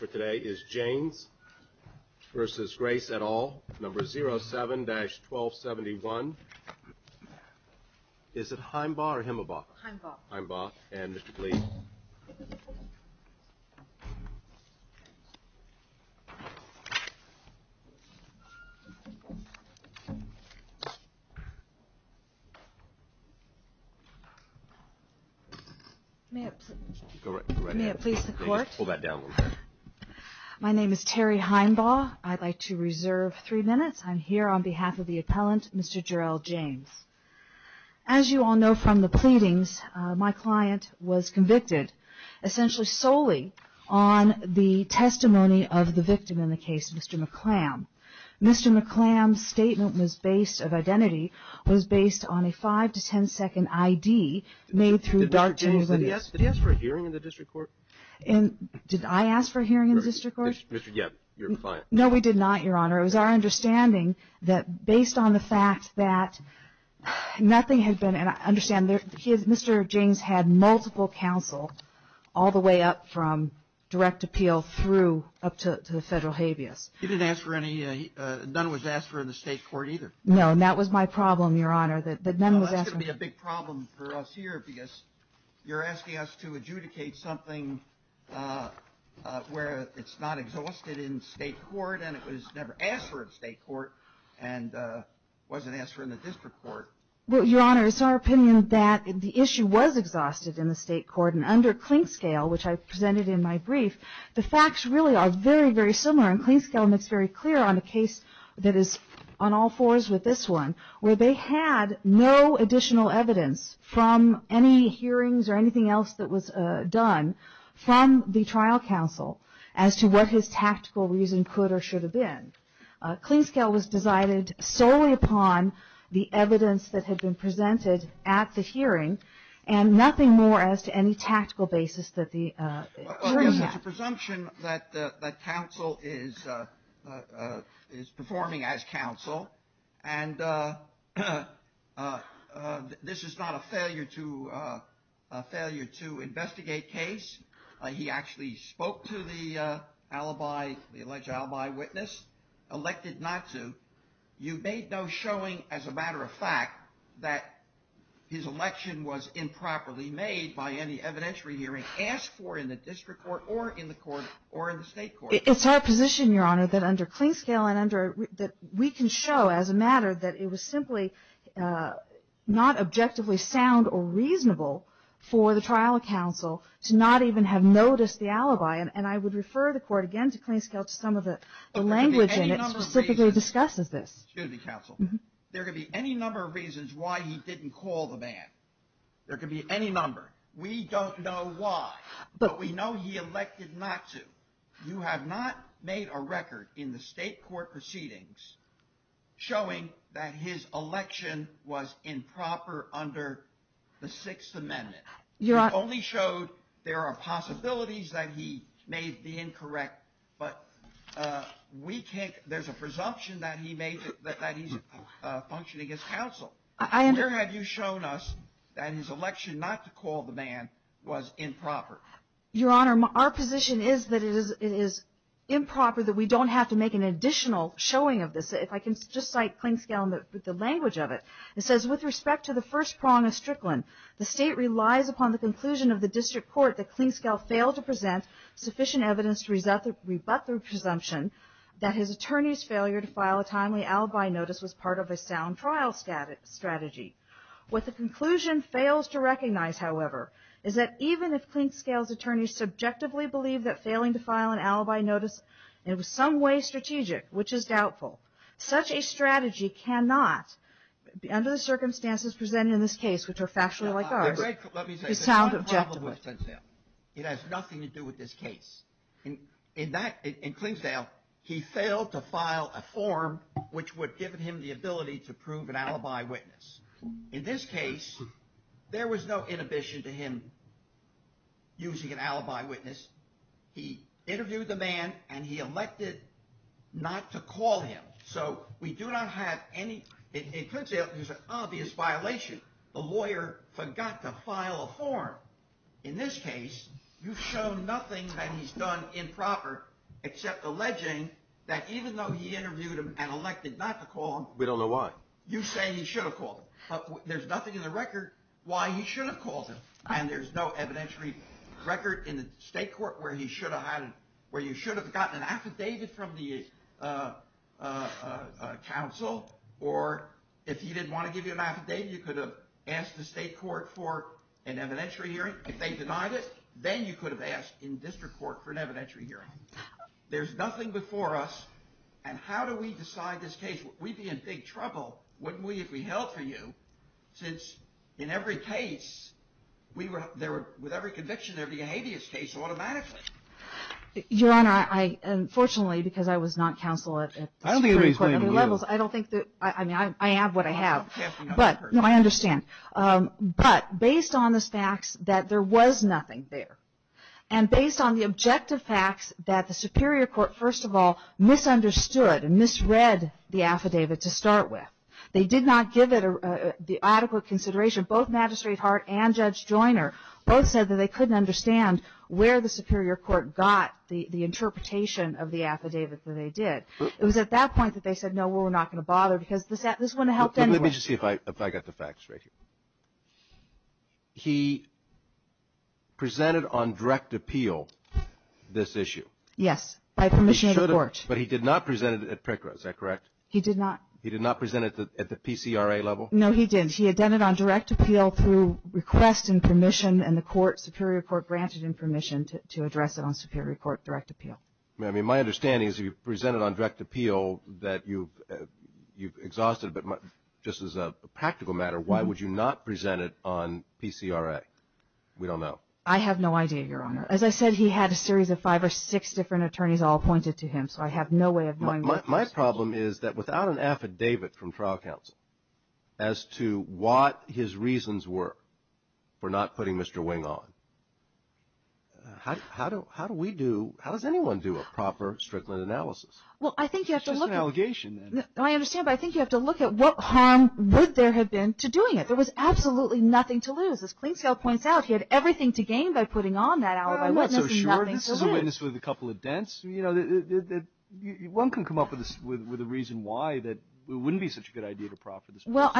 Today is Janes versus Grace et al, number 07-1271. Is it Heimbaugh or Himmelbach? Heimbaugh. Heimbaugh. And Mr. Cleese? May it please the court? Go right ahead. Pull that down a little bit. My name is Terry Heimbaugh. I'd like to reserve three minutes. I'm here on behalf of the appellant, Mr. Jerrell James. As you all know from the pleadings, my client was convicted, essentially solely on the testimony of the victim in the case, Mr. McClam. Mr. McClam's statement of identity was based on a 5-10 second I.D. Did he ask for a hearing in the district court? Did I ask for a hearing in the district court? No, we did not, Your Honor. It was our understanding that based on the fact that nothing had been, and I understand Mr. James had multiple counsel all the way up from direct appeal through up to the federal habeas. He didn't ask for any, none was asked for in the state court either. No, and that was my problem, Your Honor, that none was asked for. That's going to be a big problem for us here because you're asking us to adjudicate something where it's not exhausted in state court and it was never asked for in state court and wasn't asked for in the district court. Well, Your Honor, it's our opinion that the issue was exhausted in the state court and under Clinkscale, which I presented in my brief, the facts really are very, very similar and Clinkscale makes very clear on the case that is on all fours with this one where they had no additional evidence from any hearings or anything else that was done from the trial counsel as to what his tactical reason could or should have been. Clinkscale was decided solely upon the evidence that had been presented at the hearing and nothing more as to any tactical basis that the jury had. It's a presumption that counsel is performing as counsel and this is not a failure to investigate case. He actually spoke to the alibi, the alleged alibi witness, elected not to. You made no showing as a matter of fact that his election was improperly made by any evidentiary hearing asked for in the district court or in the court or in the state court. It's our position, Your Honor, that under Clinkscale and under that we can show as a matter that it was simply not objectively sound or reasonable for the trial counsel to not even have noticed the alibi and I would refer the court again to Clinkscale to some of the language in it specifically discusses this. There could be any number of reasons why he didn't call the ban. There could be any number. We don't know why, but we know he elected not to. You have not made a record in the state court proceedings showing that his election was improper under the Sixth Amendment. You only showed there are possibilities that he may be incorrect, but there's a presumption that he's functioning as counsel. Where have you shown us that his election not to call the ban was improper? Your Honor, our position is that it is improper that we don't have to make an additional showing of this. If I can just cite Clinkscale and the language of it. It says, with respect to the first prong of Strickland, the state relies upon the conclusion of the district court that Clinkscale failed to present sufficient evidence to rebut the presumption that his attorney's failure to file a timely alibi notice was part of a sound trial strategy. What the conclusion fails to recognize, however, is that even if Clinkscale's attorney subjectively believed that failing to file an alibi notice in some way strategic, which is doubtful, such a strategy cannot, under the circumstances presented in this case, which are factually like ours, sound objective. It has nothing to do with this case. In Clinkscale, he failed to file a form which would give him the ability to prove an alibi witness. In this case, there was no inhibition to him using an alibi witness. He interviewed the man and he elected not to call him. So we do not have any, in Clinkscale, there's an obvious violation. The lawyer forgot to file a form. In this case, you've shown nothing that he's done improper except alleging that even though he interviewed him and elected not to call him, you say he should have called him. There's nothing in the record why he should have called him. And there's no evidentiary record in the state court where you should have gotten an affidavit from the counsel, or if he didn't want to give you an affidavit, you could have asked the state court for an evidentiary hearing. If they denied it, then you could have asked in district court for an evidentiary hearing. There's nothing before us, and how do we decide this case? We'd be in big trouble wouldn't we, if we held for you, since in every case, with every conviction, there would be a habeas case automatically. Your Honor, unfortunately, because I was not counsel at the Supreme Court, I have what I have. No, I understand. But based on the facts that there was nothing there, and based on the objective facts that the Superior Court, first of all, misunderstood and misread the affidavit to start with. They did not give it the adequate consideration. Both Magistrate Hart and Judge Joiner both said that they couldn't understand where the Superior Court got the interpretation of the affidavit that they did. It was at that point that they said, no, we're not going to bother, because this wouldn't have helped anyway. Let me just see if I got the facts right here. He presented on direct appeal this issue. Yes, by permission of the Court. But he did not present it at PRCRA, is that correct? He did not. He did not present it at the PCRA level? No, he didn't. He had done it on direct appeal through request and permission, and the Superior Court granted him permission to address it on Superior Court direct appeal. I mean, my understanding is he presented on direct appeal that you've exhausted, but just as a practical matter, why would you not present it on PCRA? We don't know. I have no idea, Your Honor. As I said, he had a series of five or six different attorneys all appointed to him, so I have no way of knowing. My problem is that without an affidavit from trial counsel as to what his reasons were for not putting Mr. Wing on, how does anyone do a proper Strickland analysis? It's just an allegation. I understand, but I think you have to look at what harm would there have been to doing it. There was absolutely nothing to lose. As Clinkzell points out, he had everything to gain by putting on that alibi witness. I'm not so sure. This is a witness with a couple of dents. One can come up with a reason why it wouldn't be such a good idea to proffer this witness.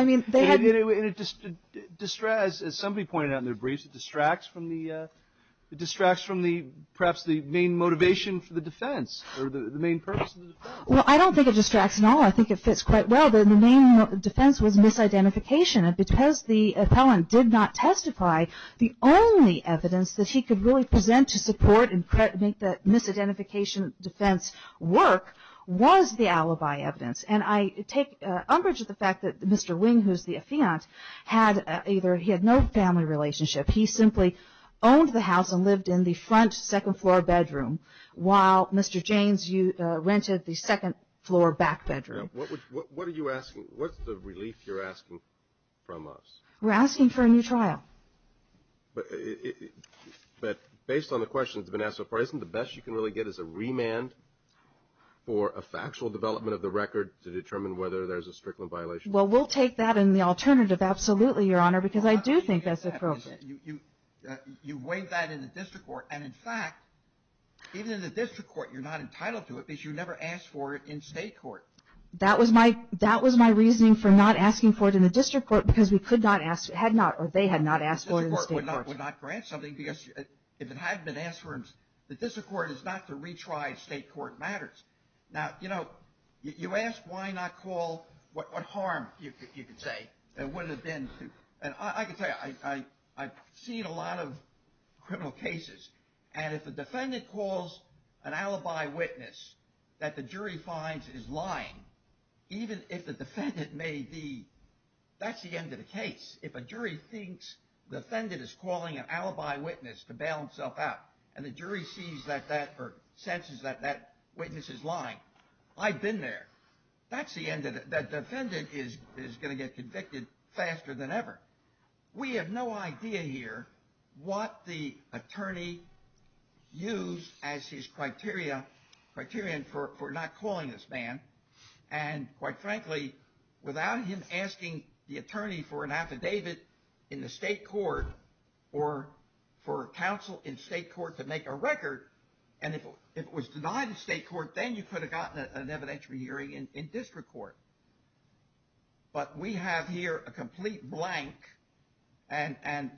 As somebody pointed out in their briefs, it distracts from perhaps the main motivation for the defense, or the main purpose of the defense. I don't think it distracts at all. I think it fits quite well. The main defense was misidentification, and because the appellant did not testify, the only evidence that he could really present to support and make the misidentification defense work was the alibi evidence. I take umbrage at the fact that Mr. Wing, who is the affiant, had no family relationship. He simply owned the house and lived in the front, second-floor bedroom, while Mr. Jaynes rented the second-floor back bedroom. What's the relief you're asking from us? We're asking for a new trial. But based on the questions that have been asked so far, isn't the best you can really get is a remand for a factual development of the record to determine whether there's a strickland violation? Well, we'll take that in the alternative, absolutely, Your Honor, because I do think that's appropriate. You weighed that in the district court, and in fact, even in the district court, you're not entitled to it because you never asked for it in state court. That was my reasoning for not asking for it in the district court because we could not ask, or they had not asked for it in the state court. We would not grant something because if it had been asked for in the district court, it's not to retry state court matters. Now, you know, you ask why not call what harm, you could say, and what it would have been. And I can tell you, I've seen a lot of criminal cases, and if a defendant calls an alibi witness that the jury finds is lying, even if the defendant may be, that's the end of the case. If a jury thinks the defendant is calling an alibi witness to bail himself out, and the jury sees that that, or senses that that witness is lying, I've been there. That's the end of it. That defendant is going to get convicted faster than ever. We have no idea here what the attorney used as his criterion for not calling this man. And quite frankly, without him asking the attorney for an affidavit in the state court, or for counsel in state court to make a record, and if it was denied in state court, then you could have gotten an evidentiary hearing in district court. But we have here a complete blank, and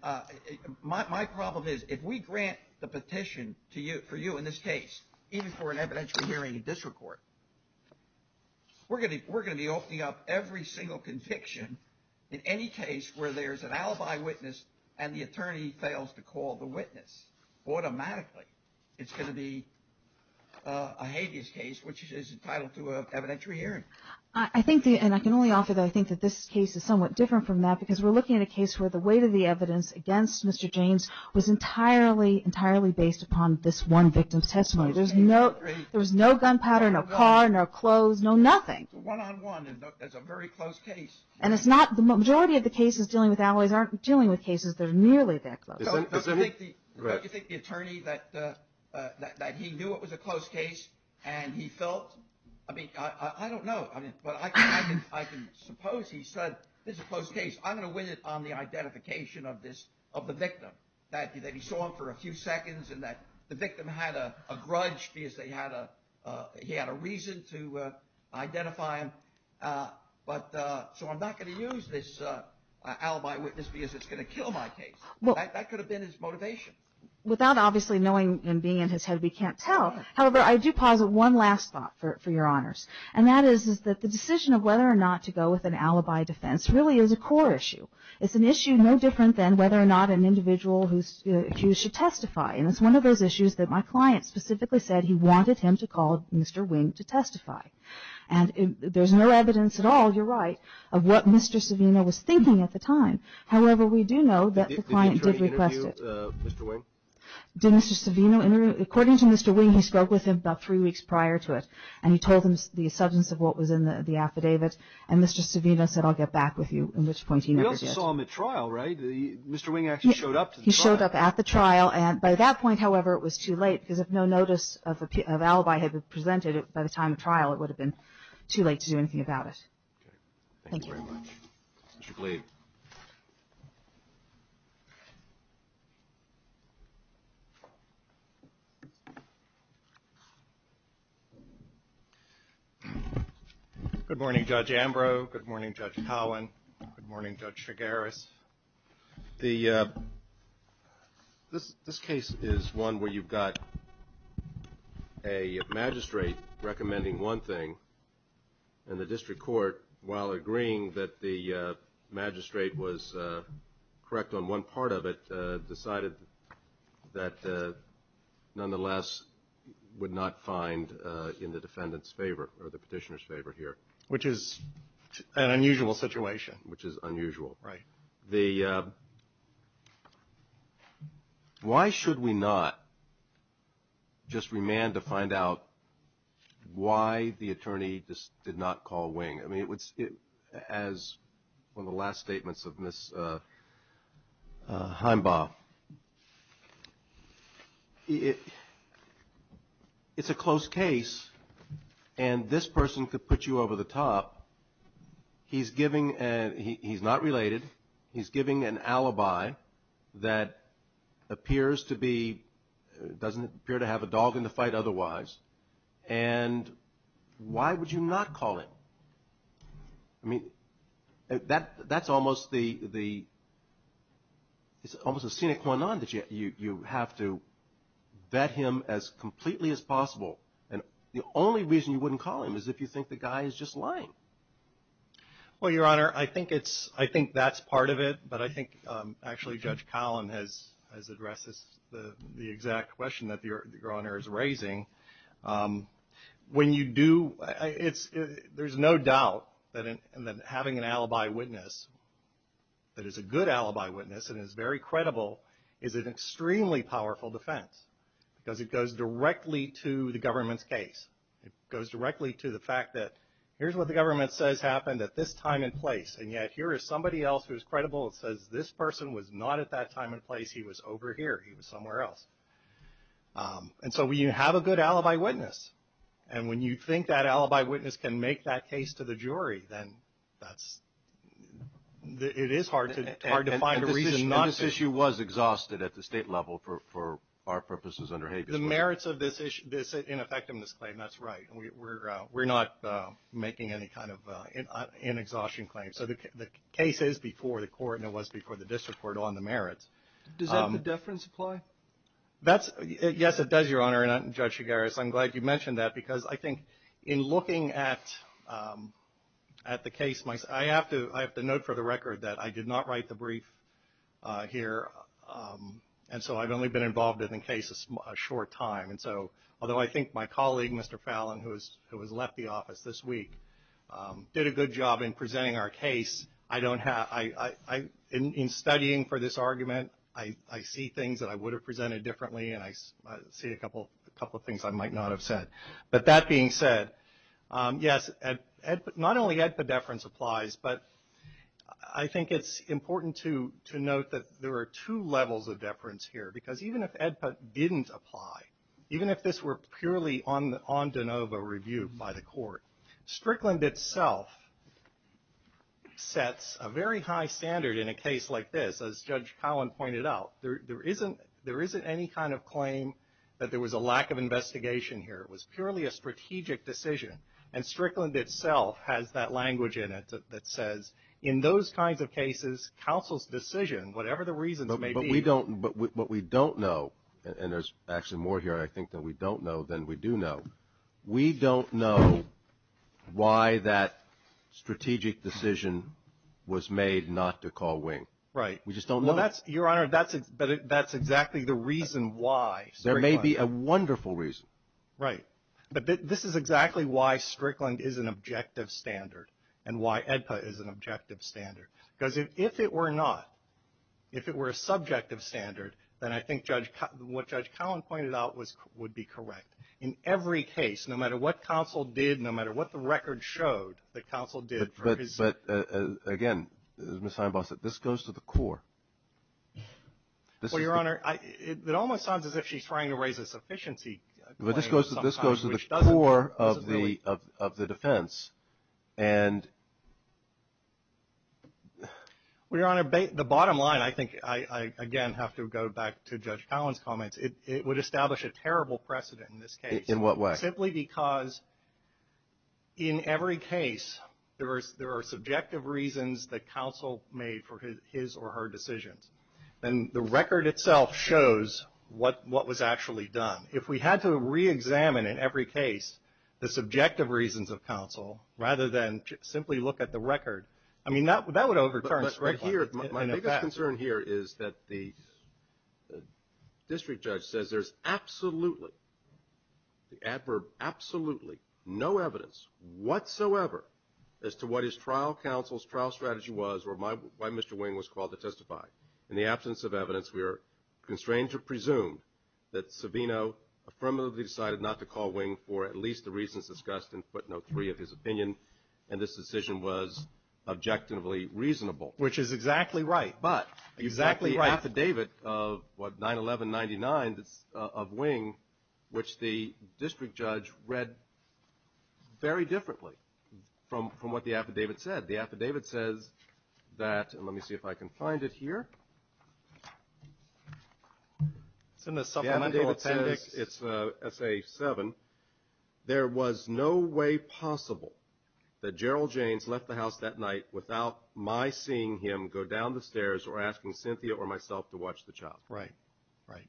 my problem is, if we grant the petition for you in this case, even for an evidentiary hearing in district court, we're going to be opening up every single conviction in any case where there's an alibi witness and the attorney fails to call the witness automatically. It's going to be a habeas case, which is entitled to an evidentiary hearing. I think, and I can only offer that I think that this case is somewhat different from that, because we're looking at a case where the weight of the evidence against Mr. James was entirely based upon this one victim's testimony. There was no gunpowder, no car, no clothes, no nothing. It's a one-on-one, and it's a very close case. The majority of the cases dealing with alibis aren't dealing with cases that are nearly that close. Don't you think the attorney, that he knew it was a close case, and he felt, I don't know, but I can suppose he said, this is a close case. I'm going to win it on the identification of the victim, that he saw him for a few seconds, and that the victim had a grudge because he had a reason to identify him. So I'm not going to use this alibi witness because it's going to kill my case. That could have been his motivation. Without obviously knowing and being in his head, we can't tell. However, I do posit one last thought for your honors, and that is that the decision of whether or not to go with an alibi defense really is a core issue. It's an issue no different than whether or not an individual who's accused should testify, and it's one of those issues that my client specifically said he wanted him to call Mr. Wing to testify. And there's no evidence at all, you're right, of what Mr. Savino was thinking at the time. However, we do know that the client did request it. Did the attorney interview Mr. Wing? Did Mr. Savino interview him? According to Mr. Wing, he spoke with him about three weeks prior to it, and he told him the substance of what was in the affidavit, and Mr. Savino said, I'll get back with you, at which point he never did. We also saw him at trial, right? Mr. Wing actually showed up to the trial. He showed up at the trial, and by that point, however, it was too late because if no notice of alibi had been presented by the time of trial, it would have been too late to do anything about it. Okay. Thank you. Thank you very much. Mr. Blade. Good morning. Good morning, Judge Ambrose. Good morning, Judge Cowan. Good morning, Judge Shigaris. This case is one where you've got a magistrate recommending one thing, and the district court, while agreeing that the magistrate was correct on one part of it, decided that nonetheless would not find in the defendant's favor or the petitioner's favor here. Which is an unusual situation. Which is unusual. Right. Why should we not just remand to find out why the attorney did not call Wing? I mean, as one of the last statements of Ms. Heimbaugh, it's a close case, and this person could put you over the top. He's not related. He's giving an alibi that appears to be, doesn't appear to have a dog in the fight otherwise, and why would you not call him? I mean, that's almost the, it's almost a sine qua non that you have to vet him as completely as possible, and the only reason you wouldn't call him is if you think the guy is just lying. Well, Your Honor, I think that's part of it, but I think actually Judge Collin has addressed the exact question that Your Honor is raising. When you do, there's no doubt that having an alibi witness that is a good alibi witness and is very credible is an extremely powerful defense, because it goes directly to the government's case. It goes directly to the fact that here's what the government says happened at this time and place, and yet here is somebody else who is credible and says this person was not at that time and place. He was over here. He was somewhere else, and so you have a good alibi witness, and when you think that alibi witness can make that case to the jury, then that's, it is hard to find a reason not to. And this issue was exhausted at the state level for our purposes under Habeas Clause. The merits of this ineffectiveness claim, that's right. We're not making any kind of an exhaustion claim. So the case is before the court, and it was before the district court on the merits. Does that deference apply? Yes, it does, Your Honor, and Judge Chigares, I'm glad you mentioned that, because I think in looking at the case, I have to note for the record that I did not write the brief here, and so I've only been involved in the case a short time. And so, although I think my colleague, Mr. Fallon, who has left the office this week, did a good job in presenting our case, I don't have, in studying for this argument, I see things that I would have presented differently, and I see a couple of things I might not have said. But that being said, yes, not only that the deference applies, but I think it's important to note that there are two levels of deference here, because even if AEDPA didn't apply, even if this were purely on de novo review by the court, Strickland itself sets a very high standard in a case like this, as Judge Collin pointed out. There isn't any kind of claim that there was a lack of investigation here. It was purely a strategic decision, and Strickland itself has that language in it that says in those kinds of cases, counsel's decision, whatever the reasons may be. But we don't know, and there's actually more here I think that we don't know than we do know, we don't know why that strategic decision was made not to call wing. Right. We just don't know. Your Honor, that's exactly the reason why. There may be a wonderful reason. Right. But this is exactly why Strickland is an objective standard and why AEDPA is an objective standard. Because if it were not, if it were a subjective standard, then I think what Judge Collin pointed out would be correct. In every case, no matter what counsel did, no matter what the record showed that counsel did. But, again, as Ms. Einbach said, this goes to the core. Well, Your Honor, it almost sounds as if she's trying to raise a sufficiency claim. This goes to the core of the defense. Well, Your Honor, the bottom line, I think I, again, have to go back to Judge Collin's comments, it would establish a terrible precedent in this case. In what way? Simply because in every case there are subjective reasons that counsel made for his or her decisions. And the record itself shows what was actually done. If we had to reexamine in every case the subjective reasons of counsel, rather than simply look at the record, I mean, that would overturn Strickland. My biggest concern here is that the district judge says there's absolutely, the adverb absolutely, no evidence whatsoever as to what his trial counsel's trial strategy was or why Mr. Wing was called to testify. In the absence of evidence, we are constrained to presume that Savino affirmatively decided not to call Wing for at least the reasons discussed in footnote three of his opinion, and this decision was objectively reasonable. Which is exactly right. But the affidavit of 9-11-99 of Wing, which the district judge read very differently from what the affidavit said. The affidavit says that, and let me see if I can find it here. It's in the supplemental appendix. It's essay seven. There was no way possible that Gerald Janes left the house that night without my seeing him go down the stairs or asking Cynthia or myself to watch the child. Right. Right.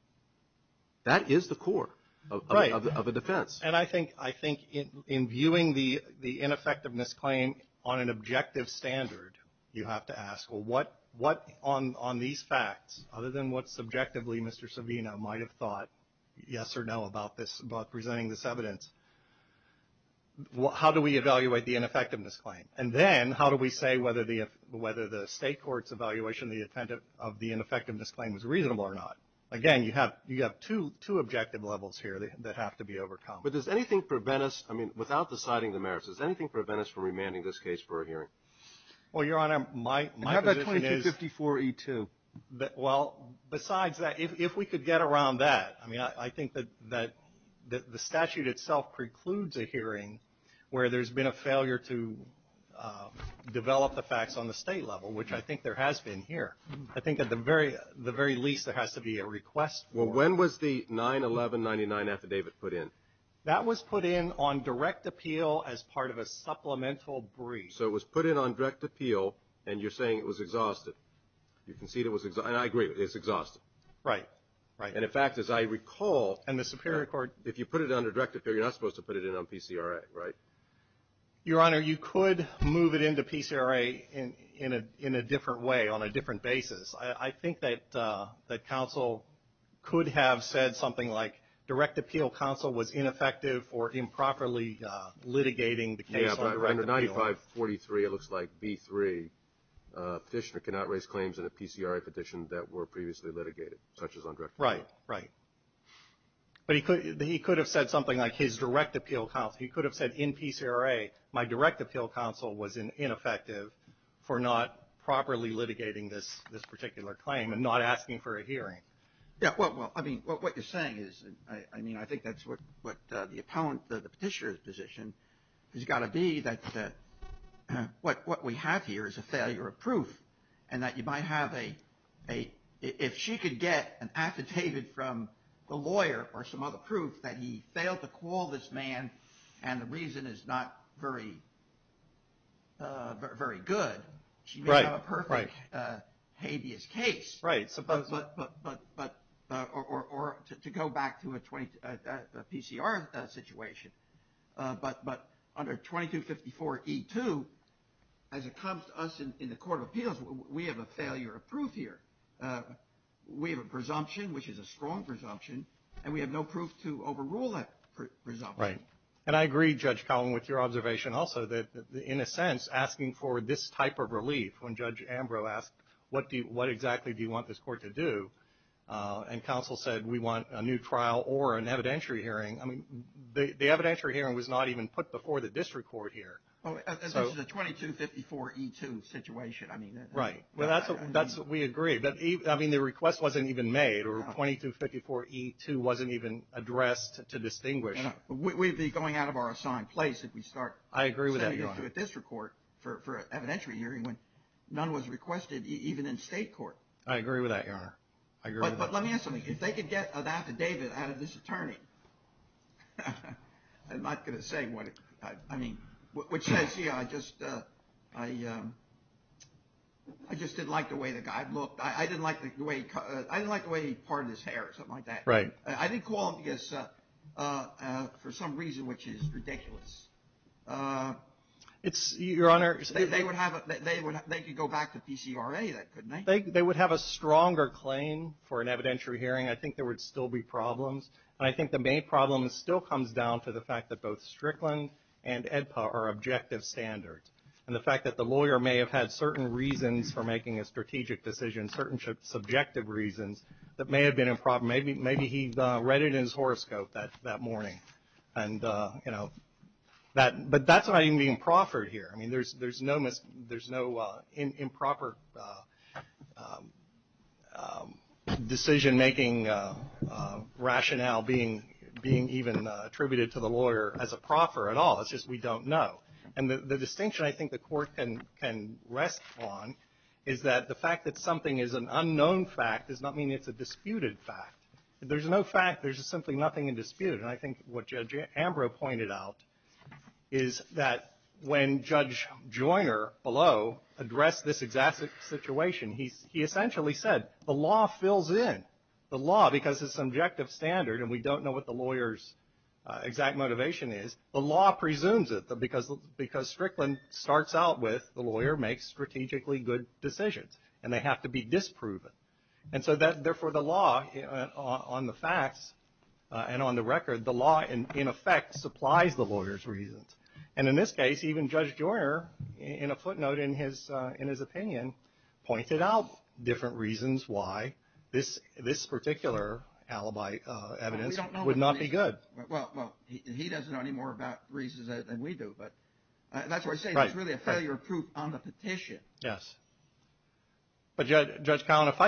That is the core of a defense. Right. And I think in viewing the ineffectiveness claim on an objective standard, you have to ask, well, what on these facts, other than what subjectively Mr. Savino might have thought yes or no about this, about presenting this evidence, how do we evaluate the ineffectiveness claim? And then how do we say whether the state court's evaluation of the ineffectiveness claim was reasonable or not? Again, you have two objective levels here that have to be overcome. But does anything prevent us, I mean, without deciding the merits, does anything prevent us from remanding this case for a hearing? Well, Your Honor, my position is. How about 2254E2? Well, besides that, if we could get around that, I mean, I think that the statute itself precludes a hearing where there's been a failure to develop the facts on the state level, which I think there has been here. I think at the very least there has to be a request for. Well, when was the 9-11-99 affidavit put in? That was put in on direct appeal as part of a supplemental brief. So it was put in on direct appeal, and you're saying it was exhausted. You can see it was exhausted, and I agree, it's exhausted. Right, right. And, in fact, as I recall, if you put it under direct appeal, you're not supposed to put it in on PCRA, right? Your Honor, you could move it into PCRA in a different way on a different basis. I think that counsel could have said something like direct appeal counsel was ineffective or improperly litigating the case on direct appeal. Under 9543, it looks like, B3, petitioner cannot raise claims in a PCRA petition that were previously litigated, such as on direct appeal. Right, right. But he could have said something like his direct appeal counsel. He could have said, in PCRA, my direct appeal counsel was ineffective for not properly litigating this particular claim and not asking for a hearing. Yeah, well, I mean, what you're saying is, I mean, I think that's what the petitioner's position has got to be, that what we have here is a failure of proof and that you might have a, if she could get an affidavit from the lawyer or some other proof that he failed to call this man and the reason is not very good, she may have a perfect habeas case. Right. But, or to go back to a PCRA situation, but under 2254E2, as it comes to us in the court of appeals, we have a failure of proof here. We have a presumption, which is a strong presumption, and we have no proof to overrule that presumption. Right. And I agree, Judge Cowen, with your observation also, that in a sense, asking for this type of relief, when Judge Ambrose asked, what exactly do you want this court to do? And counsel said, we want a new trial or an evidentiary hearing. I mean, the evidentiary hearing was not even put before the district court here. This is a 2254E2 situation. Right. That's what we agreed. I mean, the request wasn't even made, or 2254E2 wasn't even addressed to distinguish. We'd be going out of our assigned place if we start sending it to a district court for an evidentiary hearing when none was requested, even in state court. I agree with that, Your Honor. I agree with that. But let me ask you something. If they could get an affidavit out of this attorney, I'm not going to say what it, I mean, which says, you know, I just didn't like the way the guy looked. I didn't like the way he parted his hair or something like that. Right. I didn't call him for some reason which is ridiculous. It's, Your Honor. They could go back to PCRA, couldn't they? They would have a stronger claim for an evidentiary hearing. I think there would still be problems. And I think the main problem still comes down to the fact that both Strickland and AEDPA are objective standards. And the fact that the lawyer may have had certain reasons for making a strategic decision, certain subjective reasons that may have been a problem. Maybe he read it in his horoscope that morning. And, you know, but that's not even being proffered here. I mean, there's no improper decision-making rationale being even attributed to the lawyer as a proffer at all. It's just we don't know. And the distinction I think the Court can rest on is that the fact that something is an unknown fact does not mean it's a disputed fact. There's no fact. There's simply nothing in dispute. And I think what Judge Ambrose pointed out is that when Judge Joyner below addressed this exact situation, he essentially said the law fills in. The law, because it's subjective standard and we don't know what the lawyer's exact motivation is, the law presumes it because Strickland starts out with the lawyer makes strategically good decisions. And they have to be disproven. And so therefore the law on the facts and on the record, the law, in effect, supplies the lawyer's reasons. And in this case, even Judge Joyner, in a footnote in his opinion, pointed out different reasons why this particular alibi evidence would not be good. Well, he doesn't know any more about reasons than we do, but that's what I'm saying. It's really a failure proof on the petition. Yes. But Judge Collin, if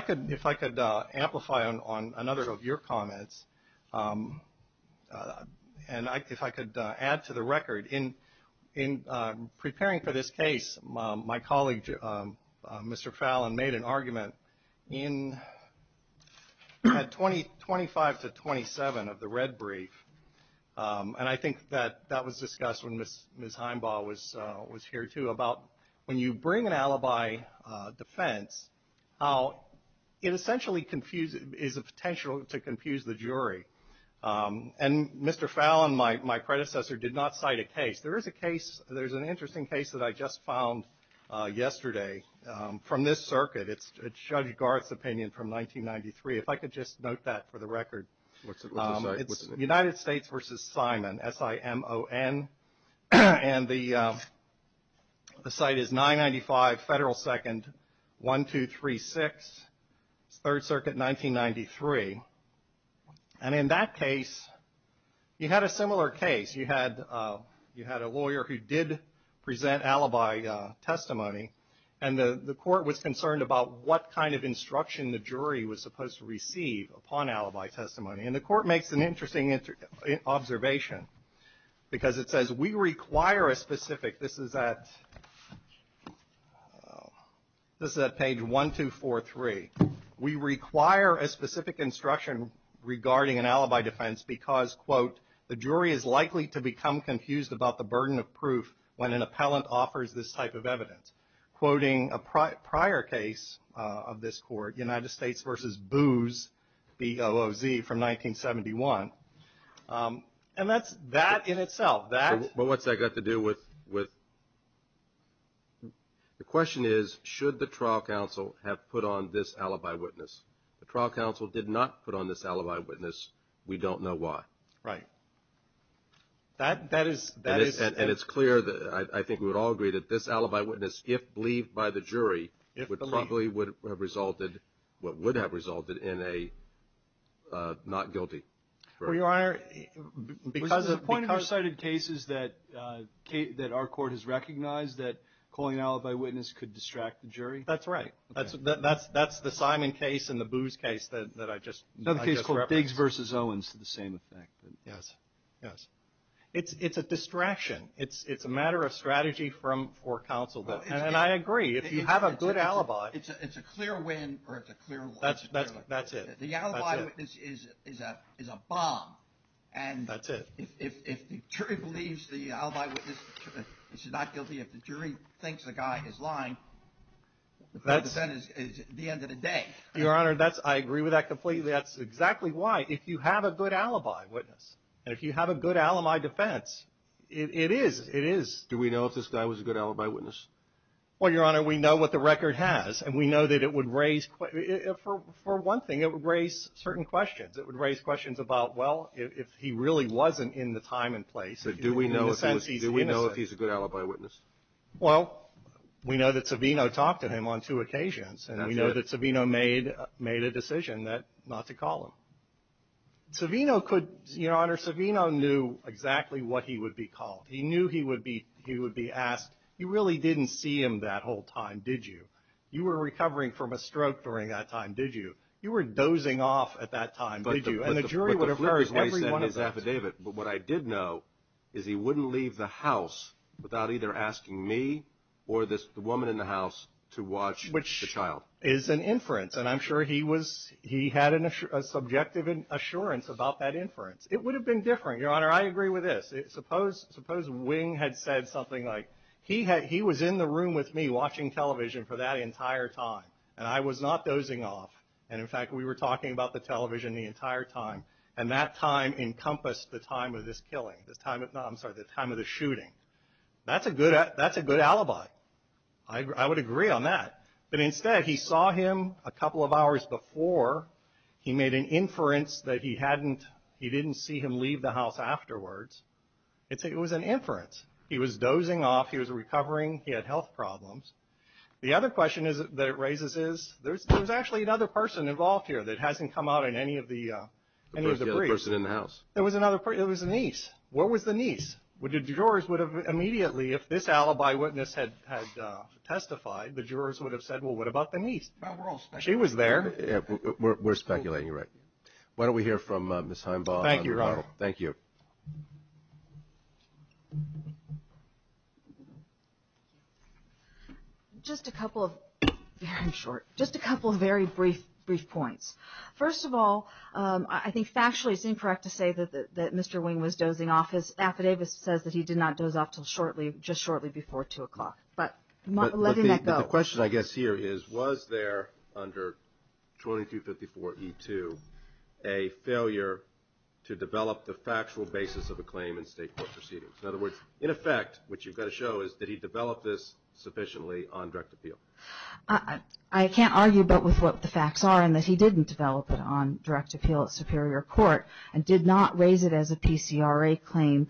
I could amplify on another of your comments, and if I could add to the record, in preparing for this case, my colleague, Mr. Fallon, made an argument in 25 to 27 of the red brief. And I think that that was discussed when Ms. Heimbaugh was here, too, about when you bring an alibi defense, how it essentially is a potential to confuse the jury. And Mr. Fallon, my predecessor, did not cite a case. There is a case, there's an interesting case that I just found yesterday from this circuit. It's Judge Garth's opinion from 1993. If I could just note that for the record. What's the site? It's United States v. Simon, S-I-M-O-N. And the site is 995 Federal 2nd, 1236, 3rd Circuit, 1993. And in that case, you had a similar case. You had a lawyer who did present alibi testimony, and the court was concerned about what kind of instruction the jury was supposed to receive upon alibi testimony. And the court makes an interesting observation, because it says, we require a specific. This is at page 1243. We require a specific instruction regarding an alibi defense because, quote, the jury is likely to become confused about the burden of proof when an appellant offers this type of evidence. Quoting a prior case of this court, United States v. Booz, B-O-O-Z, from 1971. And that's that in itself. But what's that got to do with? The question is, should the trial counsel have put on this alibi witness? The trial counsel did not put on this alibi witness. We don't know why. Right. That is. And it's clear that I think we would all agree that this alibi witness, if believed by the jury, would probably would have resulted what would have resulted in a not guilty. Well, Your Honor, because the point of our cited cases that that our court has recognized that calling alibi witness could distract the jury. That's right. That's the Simon case and the Booz case that I just referenced. Another case called Diggs v. Owens to the same effect. Yes. Yes. It's a distraction. It's a matter of strategy for counsel. And I agree. If you have a good alibi. It's a clear win or it's a clear loss. That's it. That's it. The alibi witness is a bomb. That's it. If the jury believes the alibi witness is not guilty, if the jury thinks the guy is lying. That is the end of the day. Your Honor, that's I agree with that completely. That's exactly why. If you have a good alibi witness and if you have a good alibi defense, it is. It is. Do we know if this guy was a good alibi witness? Well, Your Honor, we know what the record has and we know that it would raise for one thing. It would raise certain questions. It would raise questions about, well, if he really wasn't in the time and place. Do we know if he's a good alibi witness? Well, we know that Savino talked to him on two occasions. And we know that Savino made a decision not to call him. Savino could, Your Honor, Savino knew exactly what he would be called. He knew he would be asked, you really didn't see him that whole time, did you? You were recovering from a stroke during that time, did you? You were dozing off at that time, did you? And the jury would have heard every one of that. But what I did know is he wouldn't leave the house without either asking me or the woman in the house to watch the child. Which is an inference, and I'm sure he had a subjective assurance about that inference. It would have been different. Your Honor, I agree with this. Suppose Wing had said something like he was in the room with me watching television for that entire time and I was not dozing off. And in fact, we were talking about the television the entire time. And that time encompassed the time of this killing. I'm sorry, the time of the shooting. That's a good alibi. I would agree on that. But instead, he saw him a couple of hours before. He made an inference that he didn't see him leave the house afterwards. It was an inference. He was dozing off. He was recovering. He had health problems. The other question that it raises is there's actually another person involved here that hasn't come out in any of the briefs. The other person in the house. There was another person. It was the niece. Where was the niece? The jurors would have immediately, if this alibi witness had testified, the jurors would have said, well, what about the niece? She was there. We're speculating, you're right. Why don't we hear from Ms. Heimbaugh. Thank you, Your Honor. Thank you. Thank you. Just a couple of very brief points. First of all, I think factually it's incorrect to say that Mr. Wing was dozing off. His affidavit says that he did not doze off just shortly before 2 o'clock. But letting that go. The question, I guess, here is was there under 2254E2 a failure to develop the factual basis of a claim in state court proceedings? In other words, in effect, what you've got to show is did he develop this sufficiently on direct appeal? I can't argue but with what the facts are in that he didn't develop it on direct appeal at superior court and did not raise it as a PCRA claim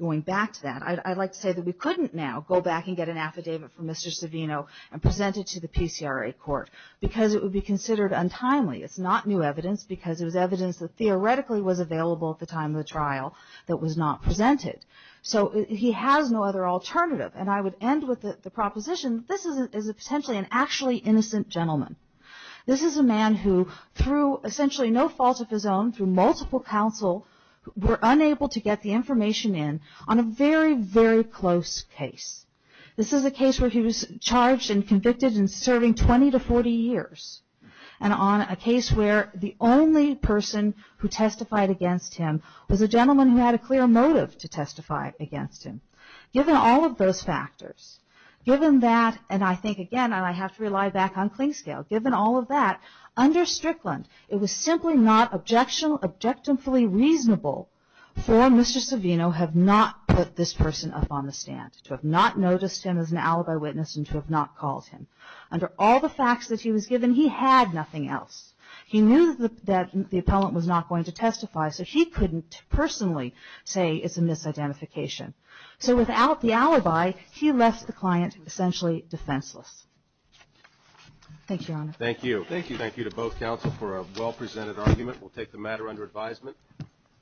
going back to that. I'd like to say that we couldn't now go back and get an affidavit from Mr. Savino and present it to the PCRA court because it would be considered untimely. It's not new evidence because it was evidence that theoretically was available at the time of the trial that was not presented. So he has no other alternative. And I would end with the proposition that this is potentially an actually innocent gentleman. This is a man who through essentially no fault of his own, through multiple counsel, were unable to get the information in on a very, very close case. This is a case where he was charged and convicted and serving 20 to 40 years. And on a case where the only person who testified against him was a gentleman who had a clear motive to testify against him. Given all of those factors, given that, and I think, again, I have to rely back on clean scale, given all of that, under Strickland, it was simply not objectively reasonable for Mr. Savino have not put this person up on the stand. To have not noticed him as an alibi witness and to have not called him. Under all the facts that he was given, he had nothing else. He knew that the appellant was not going to testify, so he couldn't personally say it's a misidentification. So without the alibi, he left the client essentially defenseless. Thank you, Your Honor. Thank you. Thank you to both counsel for a well-presented argument. We'll take the matter under advisement.